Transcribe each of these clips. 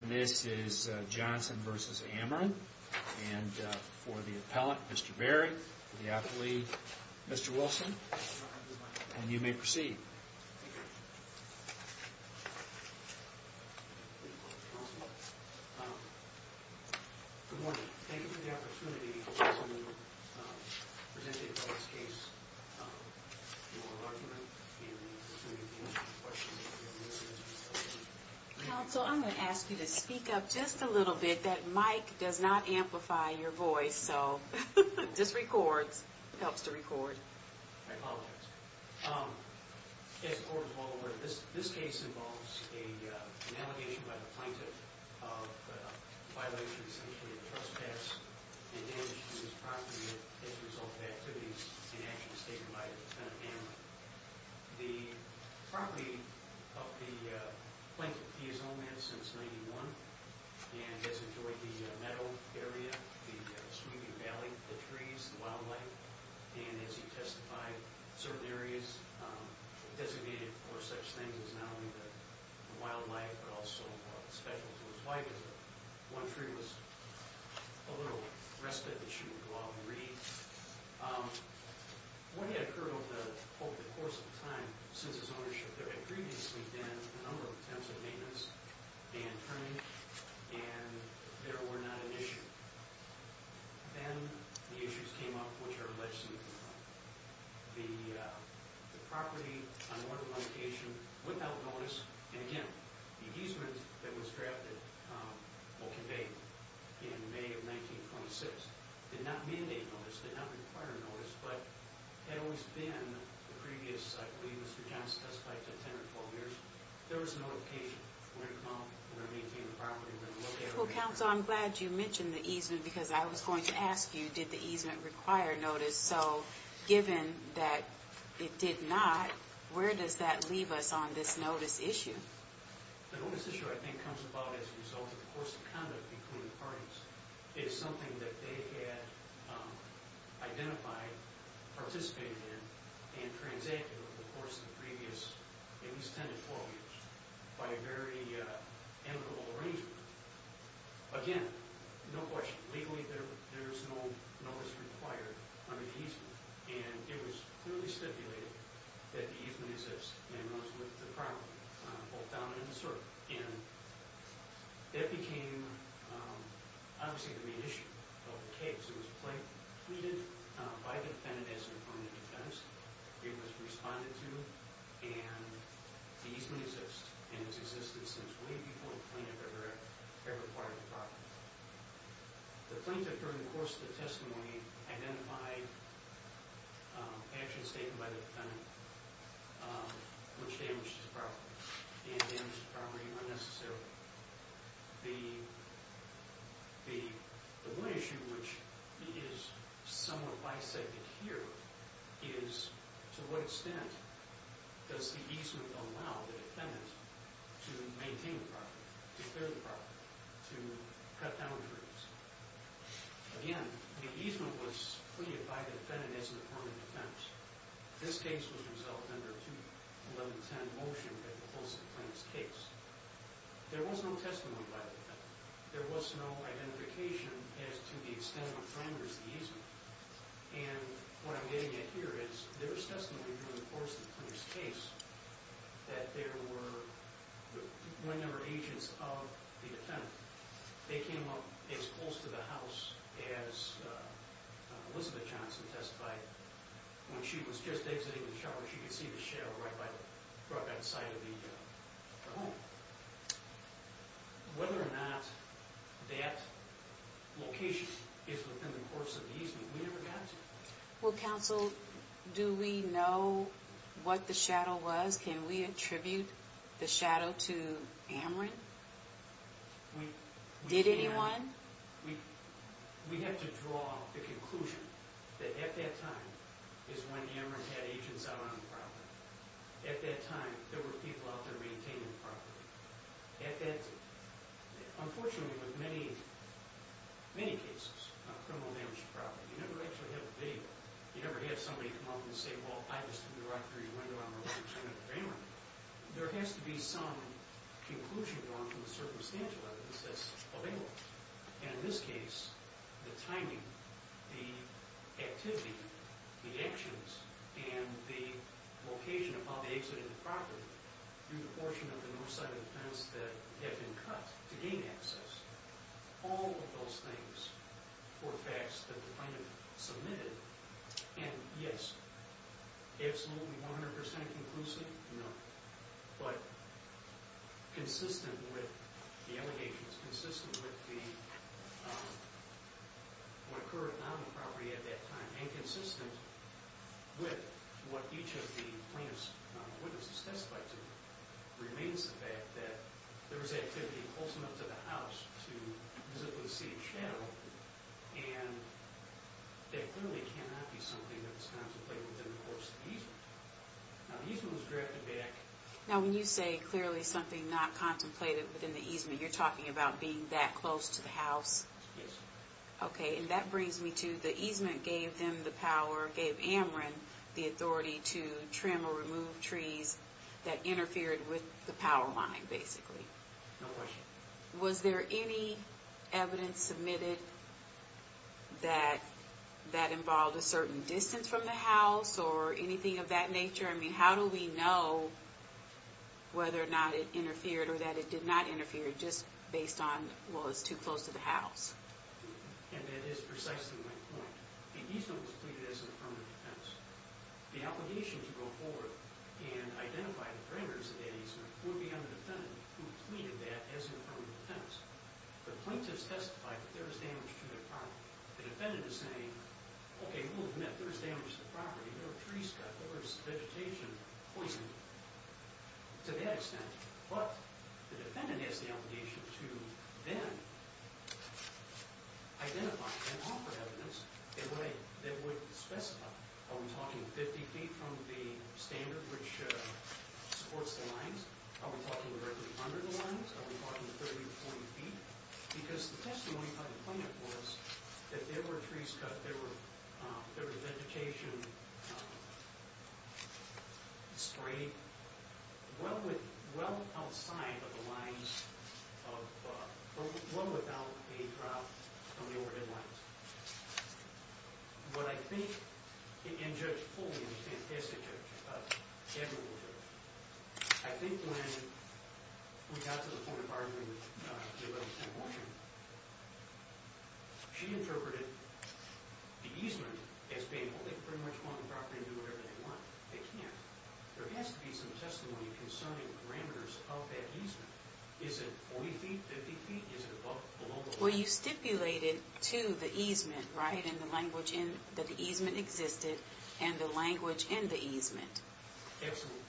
This is Johnson v. Ameren, and for the appellant, Mr. Berry, the athlete, Mr. Wilson, and you may proceed. Good morning. Thank you for the opportunity to present the appellant's case, your argument, and the opportunity to answer the question. Counsel, I'm going to ask you to speak up just a little bit. That mic does not amplify your voice, so just record. It helps to record. I apologize. As the court of law ordered, this case involves an allegation by the plaintiff of a violation, essentially, of the trust tax, and damage to this property as a result of activities and actions taken by the defendant, Ameren. The property of the plaintiff, he has owned it since 1991, and has enjoyed the meadow area, the Smoky Valley, the trees, the wildlife, and as he testified, certain areas designated for such things as not only the wildlife, but also specials. One tree was a little rusted that shouldn't go out in the reeds. What had occurred over the course of the time since his ownership there had previously been a number of attempts at maintenance and turning, and there were not an issue. Then the issues came up, which are alleged to be the property, unordered location, without notice, and again, the easement that was drafted, or conveyed in May of 1926, did not mandate notice, did not require notice, but had always been the previous, I believe, Mr. Johnson testified to 10 or 12 years, there was a notification. We're going to come out and we're going to maintain the property. Well, counsel, I'm glad you mentioned the easement, because I was going to ask you, did the easement require notice? So, given that it did not, where does that leave us on this notice issue? The notice issue, I think, comes about as a result of the course of conduct between the parties. It is something that they had identified, participated in, and transacted over the course of the previous, at least 10 to 12 years, by a very amicable arrangement. Again, no question, legally there was no notice required on the easement, and it was clearly stipulated that the easement exist, and it was with the property, both down and in the circle. And that became, obviously, the main issue of the case. It was pleaded by the defendant as an affirmative defense. It was responded to, and the easement exists, and it's existed since way before the plaintiff ever acquired the property. The plaintiff, during the course of the testimony, identified actions taken by the defendant which damaged his property, and damaged the property unnecessarily. The one issue, which is somewhat bisected here, is to what extent does the easement allow the defendant to maintain the property, to clear the property, to cut down on grievance? Again, the easement was pleaded by the defendant as an affirmative defense. This case was resolved under a 2-11-10 motion at the course of the plaintiff's case. There was no testimony by the defendant. There was no identification as to the extent of the damage to the easement. And what I'm getting at here is, there was testimony during the course of the plaintiff's case, that there were one number of agents of the defendant. They came up as close to the house as Elizabeth Johnson testified. When she was just exiting the shower, she could see the shadow right by the front side of the home. Whether or not that location is within the course of the easement, we never got to. Well, counsel, do we know what the shadow was? Can we attribute the shadow to Amarant? Did anyone? We have to draw the conclusion that at that time is when Amarant had agents out on the property. At that time, there were people out there maintaining the property. Unfortunately, with many cases of criminal damage to property, you never actually have a video. You never have somebody come up and say, well, I was to the right of your window, I'm related to Amarant. There has to be some conclusion drawn from the circumstantial evidence that's available. And in this case, the timing, the activity, the actions, and the location upon the exit of the property, through the portion of the north side of the fence that had been cut to gain access, all of those things were facts that the plaintiff submitted. And, yes, absolutely 100% conclusive? No. But consistent with the allegations, consistent with what occurred on the property at that time, and consistent with what each of the plaintiffs' witnesses testified to, remains the fact that there was activity close enough to the house to physically see a shadow. And there clearly cannot be something that's contemplated within the course of the easement. Now, the easement was drafted back. Now, when you say clearly something not contemplated within the easement, you're talking about being that close to the house? Yes. Okay, and that brings me to the easement gave them the power, gave Amarant the authority to trim or remove trees that interfered with the power line, basically. No question. Was there any evidence submitted that that involved a certain distance from the house or anything of that nature? I mean, how do we know whether or not it interfered or that it did not interfere just based on, well, it's too close to the house? And that is precisely my point. The easement was pleaded as an affirmative defense. The obligation to go forward and identify the framers of that easement would be on the defendant who pleaded that as an affirmative defense. The plaintiffs testified that there was damage to their property. The defendant is saying, okay, we'll admit there was damage to the property. There were trees cut, there was vegetation poisoned, to that extent. But the defendant has the obligation to then identify and offer evidence in a way that would specify, are we talking 50 feet from the standard which supports the lines? Are we talking directly under the lines? Are we talking 30 or 40 feet? Because the testimony by the plaintiff was that there were trees cut, there was vegetation sprayed well outside of the lines, well without a drop from the overhead lines. What I think, and Judge Foley is a fantastic judge, an admirable judge, I think when we got to the point of arguing with Judge O'Brien, she interpreted the easement as being, well, they pretty much want the property to do whatever they want. They can't. There has to be some testimony concerning parameters of that easement. Is it 40 feet, 50 feet? Is it below the line? Well, you stipulated to the easement, right, that the easement existed and the language in the easement. Absolutely.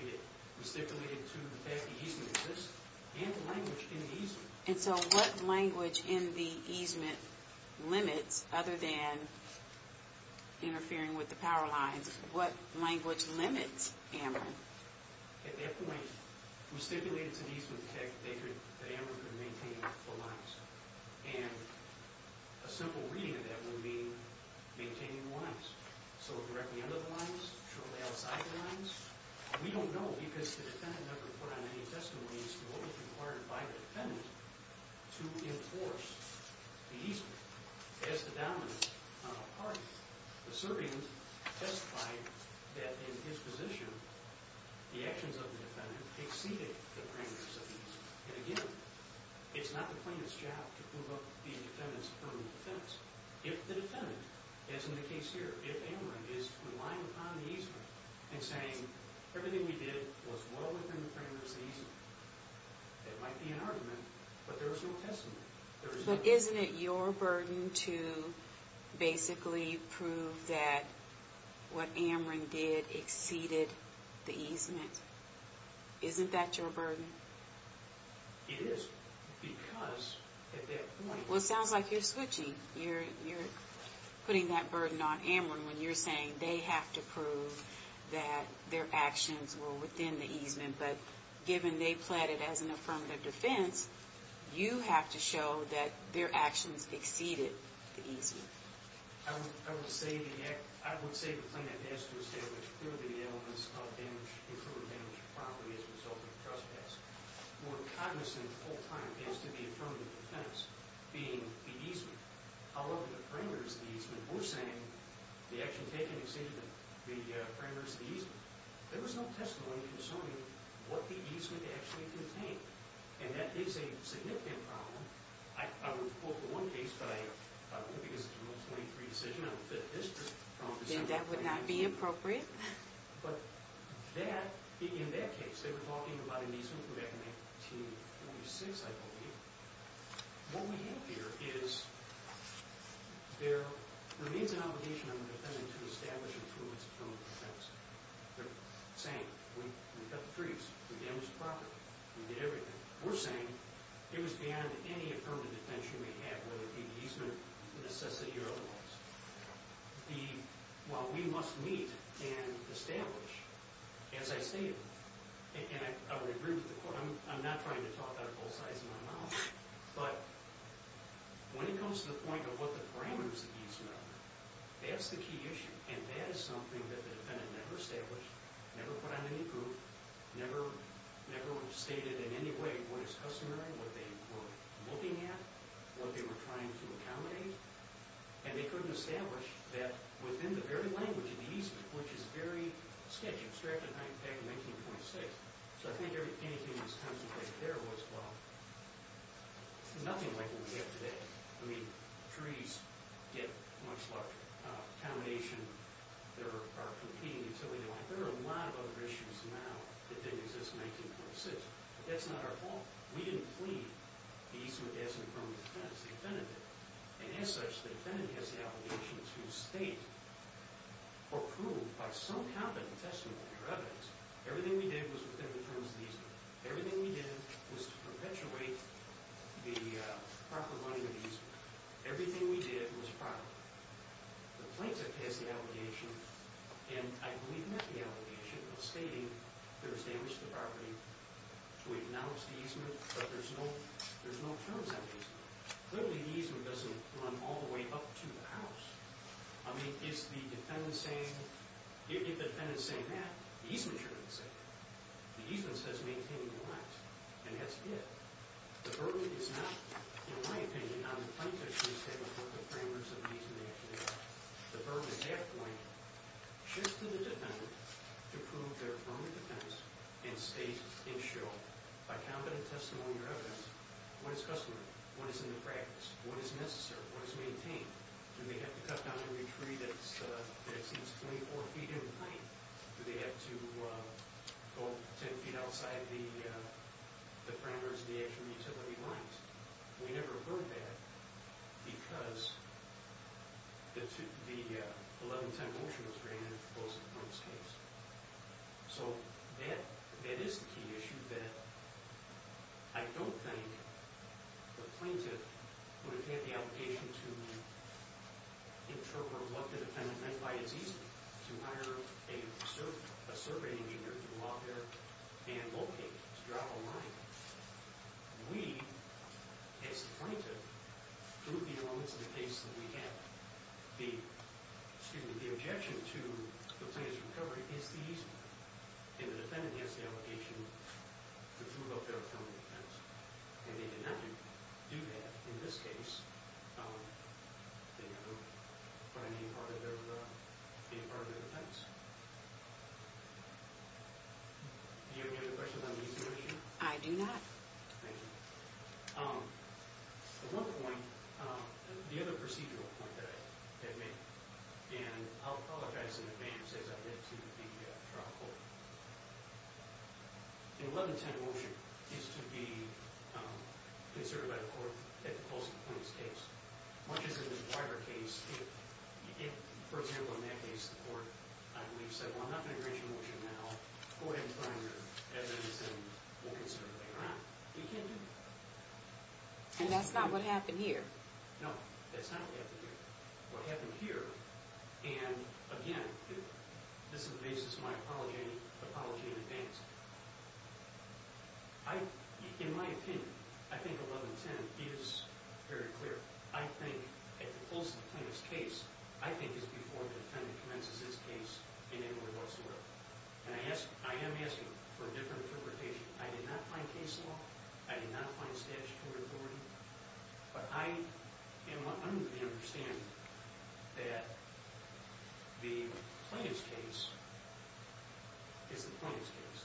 We stipulated to the fact the easement exists and the language in the easement. And so what language in the easement limits, other than interfering with the power lines, what language limits AMRA? At that point, we stipulated to the easement tech that AMRA could maintain the lines. And a simple reading of that would mean maintaining the lines. So directly under the lines? Shortly outside the lines? We don't know because the defendant never put on any testimonies to what was required by the defendant to enforce the easement as the dominant party. The servant testified that in his position, the actions of the defendant exceeded the parameters of the easement. And again, it's not the plaintiff's job to prove up the defendant's permanent defense. If the defendant, as in the case here, if AMRA is relying upon the easement and saying everything we did was well within the parameters of the easement, it might be an argument, but there is no testimony. But isn't it your burden to basically prove that what AMRA did exceeded the easement? Isn't that your burden? It is because at that point... Well, it sounds like you're switching. You're putting that burden on AMRA when you're saying they have to prove that their actions were within the easement. But given they pledged it as an affirmative defense, you have to show that their actions exceeded the easement. I would say the plaintiff has to establish clearly the elements of incriminating property as a result of the trespass. More cognizant, the whole point is to the affirmative defense being the easement. However, the parameters of the easement, we're saying the action taken exceeded the parameters of the easement. There was no testimony concerning what the easement actually contained, and that is a significant problem. I would quote the one case, but I don't know because it's a 123 decision. I don't fit this problem. Then that would not be appropriate. But in that case, they were talking about an easement from back in 1946, I believe. What we have here is there remains an obligation on the defendant to establish and prove it's an affirmative defense. They're saying we cut the trees, we damaged the property, we did everything. We're saying it was beyond any affirmative defense you may have, whether it be easement necessity or otherwise. While we must meet and establish, as I stated, and I would agree with the court, I'm not trying to talk out of both sides of my mouth, but when it comes to the point of what the parameters of the easement are, that's the key issue, and that is something that the defendant never established, never put on any proof, never stated in any way what is customary, what they were looking at, what they were trying to accommodate, and they couldn't establish that within the very language of the easement, which is very sketchy, abstracted back in 1926. So I think anything that's contemplated there was, well, nothing like what we have today. I mean, trees get much larger, accommodation, there are competing utility lines. There are a lot of other issues now that didn't exist in 1946, but that's not our fault. We didn't plead the easement as an affirmative defense. The defendant did. And as such, the defendant has the obligation to state or prove by some competent testimony or evidence everything we did was within the terms of the easement. Everything we did was to perpetuate the proper running of the easement. Everything we did was proper. The plaintiff has the obligation, and I believe met the obligation, of stating that it was damaged to the property to acknowledge the easement, but there's no terms on the easement. Clearly, the easement doesn't run all the way up to the house. I mean, is the defendant saying that? The easement shouldn't say that. The easement says maintaining the lines, and that's it. The burden is not, in my opinion, on the plaintiff to say what the parameters of the easement actually are. The burden at that point shifts to the defendant to prove their own defense and state and show by competent testimony or evidence what is customary, what is in the practice, what is necessary, what is maintained. Do they have to cut down every tree that's 24 feet in length? Do they have to go 10 feet outside the parameters of the actual utility lines? We never heard that because the 1110 motion was granted in the proposed case. So that is the key issue that I don't think the plaintiff would have had the obligation to interpret what the defendant meant by easement, to hire a survey engineer to go out there and locate, to draw a line. We, as the plaintiff, do the elements in the case that we have. The objection to the plaintiff's recovery is the easement, and the defendant has the obligation to prove up their own defense, and they did not do that in this case for any part of their defense. Do you have any questions on the easement issue? I do not. Thank you. One point, the other procedural point that I made, and I'll apologize in advance as I get to the trial court. The 1110 motion is to be considered by the court at the close of the plaintiff's case. Much as in the Dwyer case, if, for example, in that case the court, I believe, said, well, I'm not going to grant you a motion now, go ahead and file your evidence and we'll consider it later on. You can't do that. And that's not what happened here. No, that's not what happened here. What happened here, and again, this is my apology in advance. In my opinion, I think 1110 is very clear. I think at the close of the plaintiff's case, I think it's before the defendant commences his case in Inglewood, North Seattle, and I am asking for a different interpretation. I did not find case law. I did not find statutory authority. But I am under the understanding that the plaintiff's case is the plaintiff's case.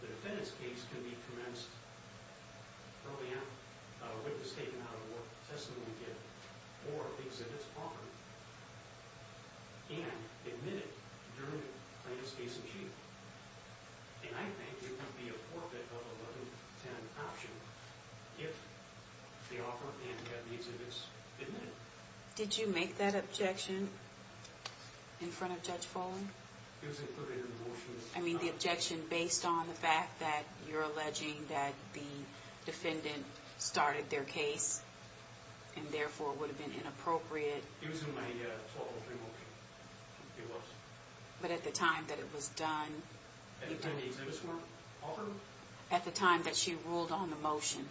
The defendant's case can be commenced early on, a witness taken out of a war testimony kit or the exhibit's offering, and admitted during the plaintiff's case in chief. And I think it would be a forfeit of a 1110 option if the offer and that exhibit is admitted. Did you make that objection in front of Judge Foley? It was included in the motion. I mean the objection based on the fact that you're alleging that the defendant started their case and therefore would have been inappropriate. It was included in the motion. It was. But at the time that it was done. At the time the exhibit was offered? At the time that she ruled on the motion.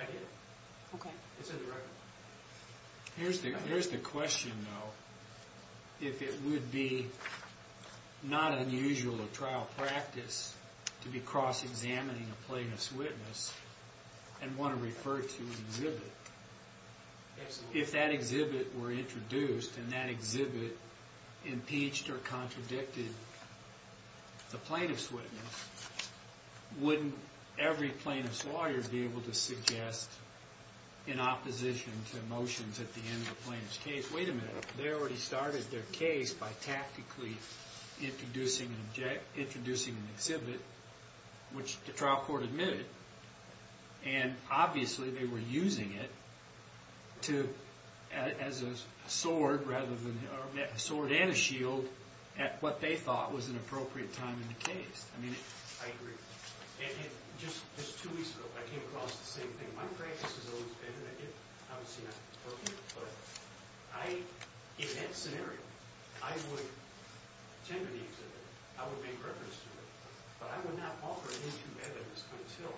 I did. Okay. It's in the record. Here's the question though. If it would be not unusual of trial practice to be cross-examining a plaintiff's witness and want to refer to an exhibit. Absolutely. If that exhibit were introduced and that exhibit impeached or contradicted the plaintiff's witness, wouldn't every plaintiff's lawyer be able to suggest in opposition to motions at the end of the plaintiff's case, wait a minute, they already started their case by tactically introducing an exhibit, which the trial court admitted. And obviously they were using it as a sword and a shield at what they thought was an appropriate time in the case. I agree. Just two weeks ago I came across the same thing. My practice has always been, and obviously not appropriate, but in that scenario I would tend to the exhibit. I would make reference to it. But I would not offer it into evidence until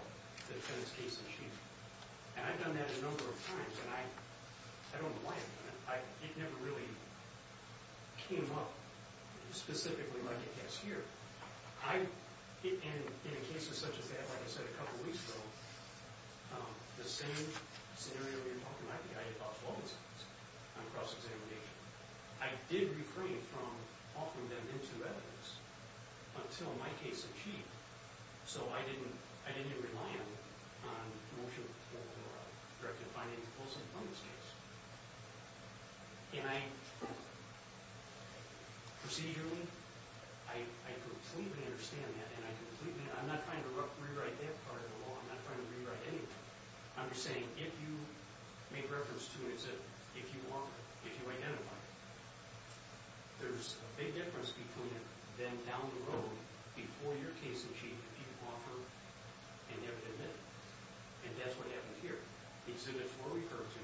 the defendant's case is achieved. And I've done that a number of times, and I don't know why I've done it. It never really came up specifically like it has here. In a case such as that, like I said a couple of weeks ago, the same scenario you're talking about, the idea of false evidence on cross-examination, I did refrain from offering them into evidence until my case achieved. So I didn't even rely on a motion for rectifying a false informant's case. Procedurally, I completely understand that. I'm not trying to rewrite that part of the law. I'm not trying to rewrite anything. I'm just saying if you make reference to an exhibit, if you offer it, if you identify it, there's a big difference between then down the road, before your case is achieved, if you offer and never admit it. And that's what happened here. Exhibits were referred to.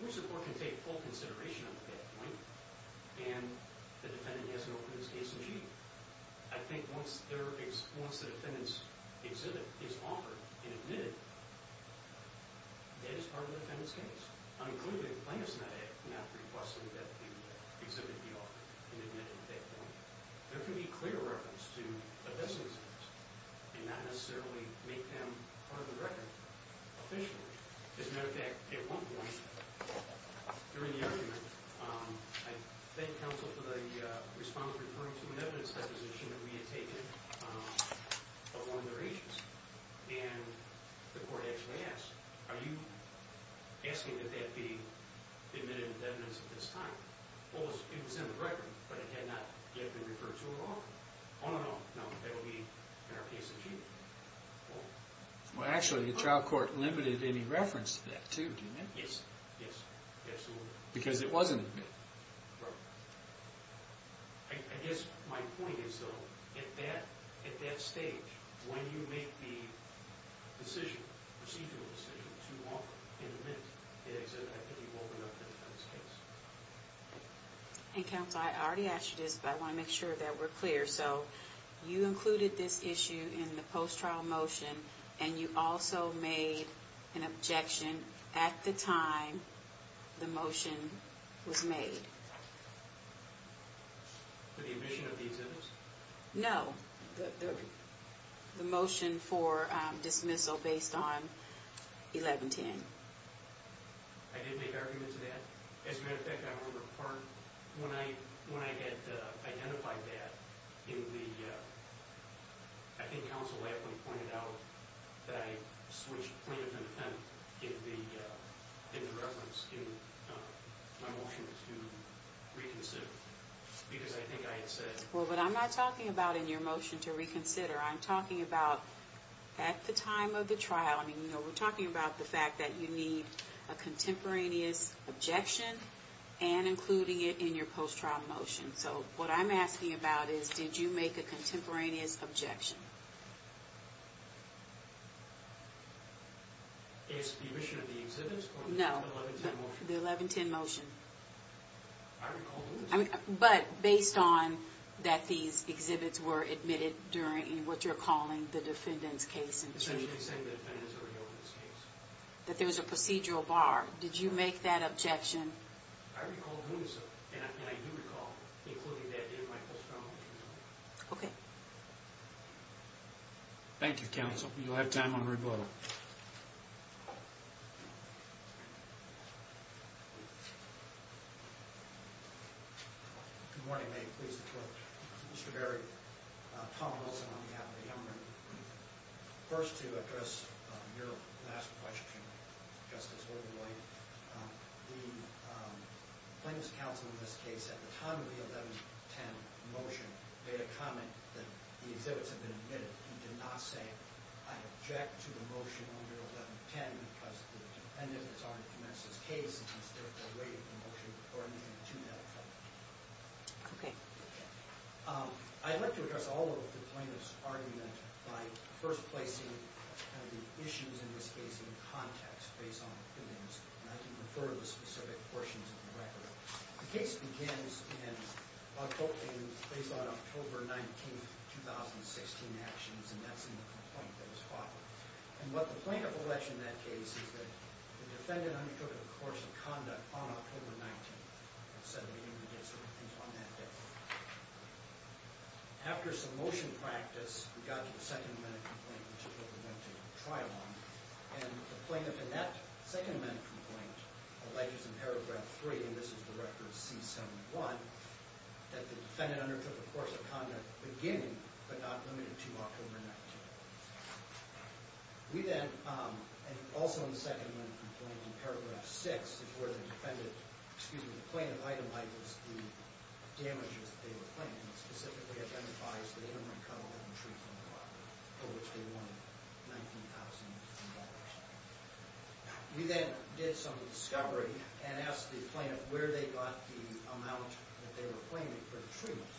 Your support can take full consideration at that point, and the defendant has an open case achieved. I think once the defendant's exhibit is offered and admitted, that is part of the defendant's case. I'm clearly not requesting that the exhibit be offered and admitted at that point. There can be clear reference to a decent exhibit and not necessarily make them part of the record officially. As a matter of fact, at one point during the argument, I thank counsel for the respondent referring to an evidence deposition that we had taken of one of their agents. And the court actually asked, are you asking that that be admitted with evidence at this time? Well, it was in the record, but it had not yet been referred to at all. All in all, no, that will be in our case achieved. Well, actually, the trial court limited any reference to that too, didn't it? Yes, yes, absolutely. Because it was in the record. I guess my point is, though, at that stage, when you make the decision, procedural decision, to offer and admit the exhibit, I think you've opened up the defendant's case. And counsel, I already asked you this, but I want to make sure that we're clear. So you included this issue in the post-trial motion, and you also made an objection at the time the motion was made. For the admission of the exhibits? No, the motion for dismissal based on 1110. I did make arguments to that. As a matter of fact, I remember part, when I had identified that, in the, I think counsel Latham pointed out that I switched plaintiff and defendant in the reference in my motion to reconsider. Because I think I had said. Well, but I'm not talking about in your motion to reconsider. I'm talking about at the time of the trial. I mean, we're talking about the fact that you need a contemporaneous objection and including it in your post-trial motion. So what I'm asking about is, did you make a contemporaneous objection? It's the admission of the exhibits? No, the 1110 motion. I recall doing so. But based on that these exhibits were admitted during what you're calling the defendant's case. Essentially saying the defendant's already opened his case. That there was a procedural bar. Did you make that objection? I recall doing so. And I do recall including that in my post-trial motion. Okay. Thank you, counsel. You'll have time on rebuttal. Good morning. May it please the court. Mr. Berry, Tom Wilson on behalf of the government. First to address your last question, Justice Oberlein. The plaintiff's counsel in this case at the time of the 1110 motion made a comment that the exhibits had been admitted. He did not say, I object to the motion under 1110 because the defendant has already commenced his case and has therefore waived the motion according to that. Okay. I'd like to address all of the plaintiff's argument by first placing the issues in this case in context based on the evidence. And I can refer to the specific portions of the record. The case begins in October 19th, 2016 actions. And that's in the complaint that was filed. And what the plaintiff alleged in that case is that the defendant undertook a course of conduct on October 19th. After some motion practice, we got to the second amendment complaint which is what we're going to try on. And the plaintiff in that second amendment complaint alleges in paragraph three, and this is the record of C71, that the defendant undertook a course of conduct beginning but not limited to October 19th. We then, and also in the second amendment complaint in paragraph six, this is where the defendant, excuse me, the plaintiff itemized the damages that they were claiming. It specifically identifies the interim recoverable in the treatment of the father for which they won $19,000. We then did some discovery and asked the plaintiff where they got the amount that they were claiming for the treatment.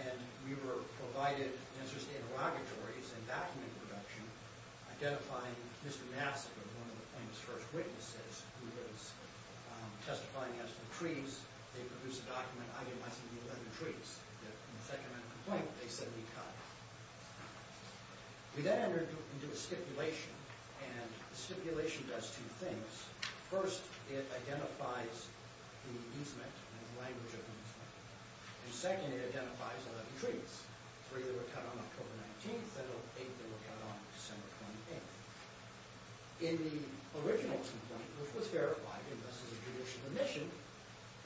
And we were provided an interest in interrogatories and document production identifying Mr. Nassif as one of the plaintiff's first witnesses who was testifying against the trees. They produced a document itemizing the 11 trees. In the second amendment complaint, they said we cut. We then entered into a stipulation, and the stipulation does two things. First, it identifies the easement and the language of the easement. And second, it identifies 11 trees. Three that were cut on October 19th, and eight that were cut on December 28th. In the original complaint, which was verified, and thus is a judicial admission,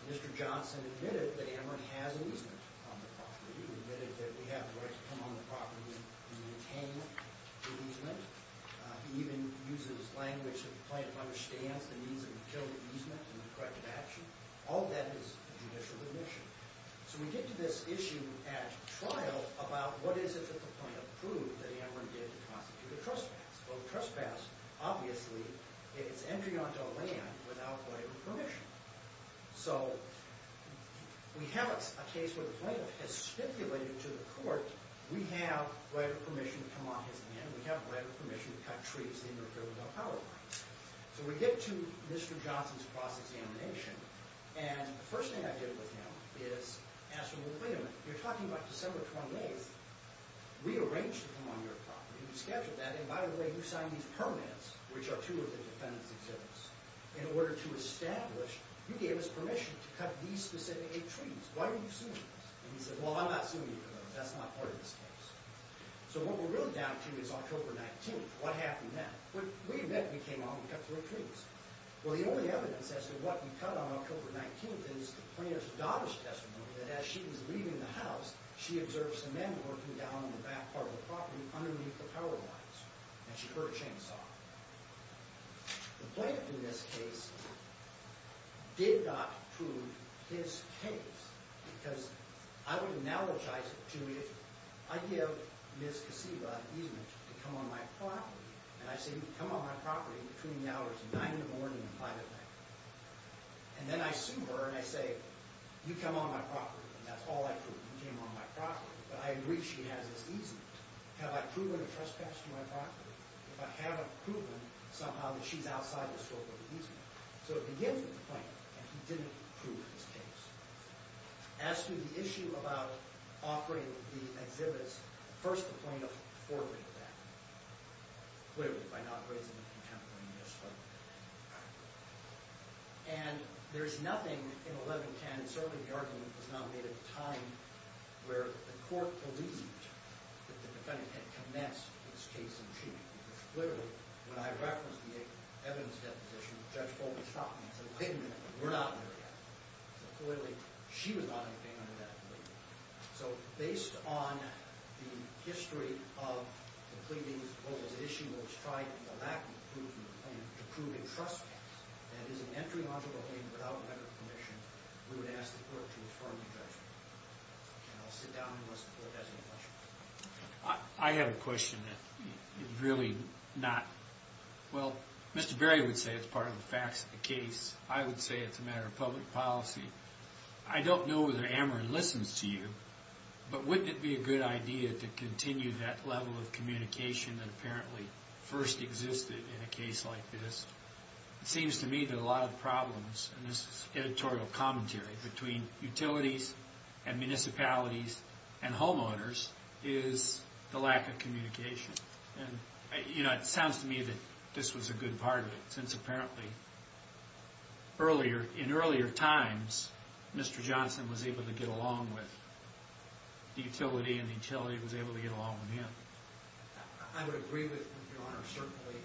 Mr. Johnson admitted that Ameren has an easement on the property. He admitted that we have the right to come on the property and maintain the easement. He even uses language that the plaintiff understands the needs of the children easement and the corrective action. All that is judicial admission. So we get to this issue at trial about what is it that the plaintiff proved that Ameren did to constitute a trespass. Well, the trespass, obviously, is entering onto a land without whatever permission. So we have a case where the plaintiff has stipulated to the court, we have whatever permission to come on his land, we have whatever permission to cut trees in North Carolina power lines. So we get to Mr. Johnson's cross-examination, and the first thing I did with him is ask him, wait a minute, you're talking about December 28th. We arranged to come on your property. You scheduled that, and by the way, you signed these permits, which are two of the defendant's exhibits. In order to establish, you gave us permission to cut these specific eight trees. Why are you suing us? And he said, well, I'm not suing you for those. That's not part of this case. So what we're really down to is October 19th. What happened then? We admit we came on and cut three trees. Well, the only evidence as to what we cut on October 19th is the plaintiff's daughter's testimony that as she was leaving the house, she observed some men working down in the back part of the property underneath the power lines, and she heard a chainsaw. The plaintiff in this case did not prove his case because I would analogize it to if I give Ms. Kasiba an easement to come on my property, and I say, come on my property between the hours of 9 in the morning and 5 at night. And then I sue her, and I say, you come on my property, and that's all I prove. You came on my property. But I agree she has this easement. Have I proven a trespass to my property? If I haven't proven somehow that she's outside the scope of the easement. So it begins with the plaintiff, and he didn't prove his case. As to the issue about offering the exhibits, first the plaintiff forfeited that, clearly by not raising the contemporary in this way. And there's nothing in 1110, certainly the argument was not made at the time where the court believed that the defendant had commenced his case in chief. Clearly, when I referenced the evidence deposition, Judge Foley stopped me and said, wait a minute, we're not there yet. Clearly, she was not anything like that. So based on the history of the pleadings, what was the issue that was tried in the lack of proof in the claim to prove a trespass, that is an entry onto the claim without medical permission, we would ask the court to affirm the judgment. And I'll sit down and listen to what the court has to say. I have a question that is really not. Well, Mr. Berry would say it's part of the facts of the case. I would say it's a matter of public policy. I don't know whether Ameren listens to you, but wouldn't it be a good idea to continue that level of communication that apparently first existed in a case like this? It seems to me that a lot of problems, and this is editorial commentary, between utilities and municipalities and homeowners is the lack of communication. And, you know, it sounds to me that this was a good part of it, since apparently in earlier times, Mr. Johnson was able to get along with the utility, and the utility was able to get along with him. I would agree with you, Your Honor, certainly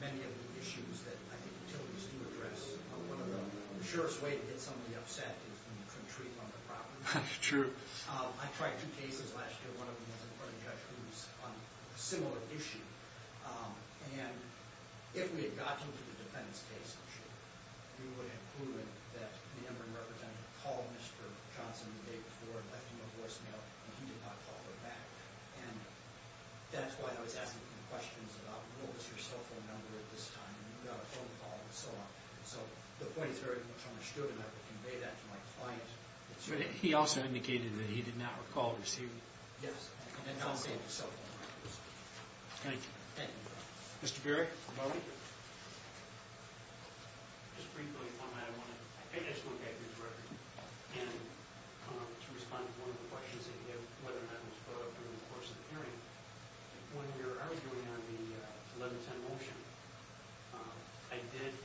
many of the issues that I think utilities do address. One of the surest ways to get somebody upset is when you couldn't treat them on their property. True. I tried two cases last year. One of them was in front of a judge who was on a similar issue. And if we had gotten to the defendant's case, we would have proven that the Ameren representative called Mr. Johnson the day before and left him a voicemail, and he did not call her back. And that's why I was asking him questions about, what was your cell phone number at this time, and you got a phone call, and so on. So the point is very much understood, and I would convey that to my client. He also indicated that he did not recall receiving gifts, Thank you. Thank you, Your Honor. Mr. Berry? Just briefly, if I might, I think I just want to get through the record. And to respond to one of the questions that you had, whether or not it was brought up during the course of the hearing. When you were arguing on the 1110 motion, I did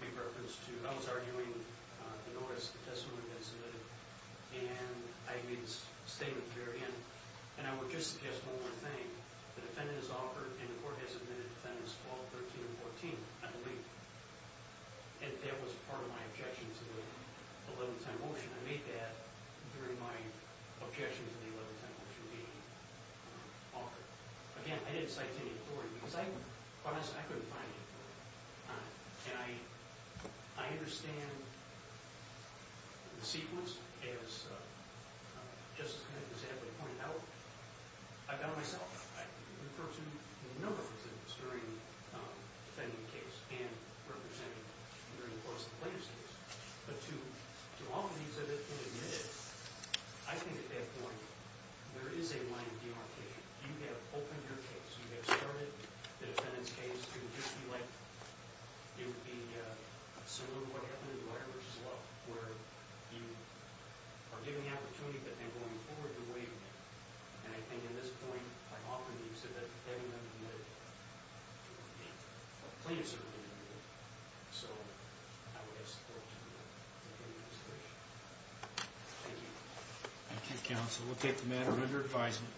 make reference to, I was arguing the notice of testimony that was submitted, and I made this statement at the very end. And I would just suggest one more thing. The defendant is offered, and the court has admitted defendants, 12, 13, and 14, I believe. And that was part of my objection to the 1110 motion. I made that during my objection to the 1110 motion being offered. Again, I didn't cite any authority, because I couldn't find any authority. And I understand the sequence, as Justice McIntyre pointed out. I've done it myself. I've referred to a number of defendants during the defendant's case and represented them during the course of the plaintiff's case. But to all of these that have been admitted, I think at that point, there is a line of demarcation. You have opened your case. You have started the defendant's case. It would be similar to what happened in Dwyer v. Love, where you are giving the opportunity, but then going forward, you're waiving it. And I think at this point, I'm offering the exhibit, getting them admitted to the plaintiff's arraignment. So I would ask support to the defendant's case. Thank you. Thank you, counsel. We'll take the matter under advisement.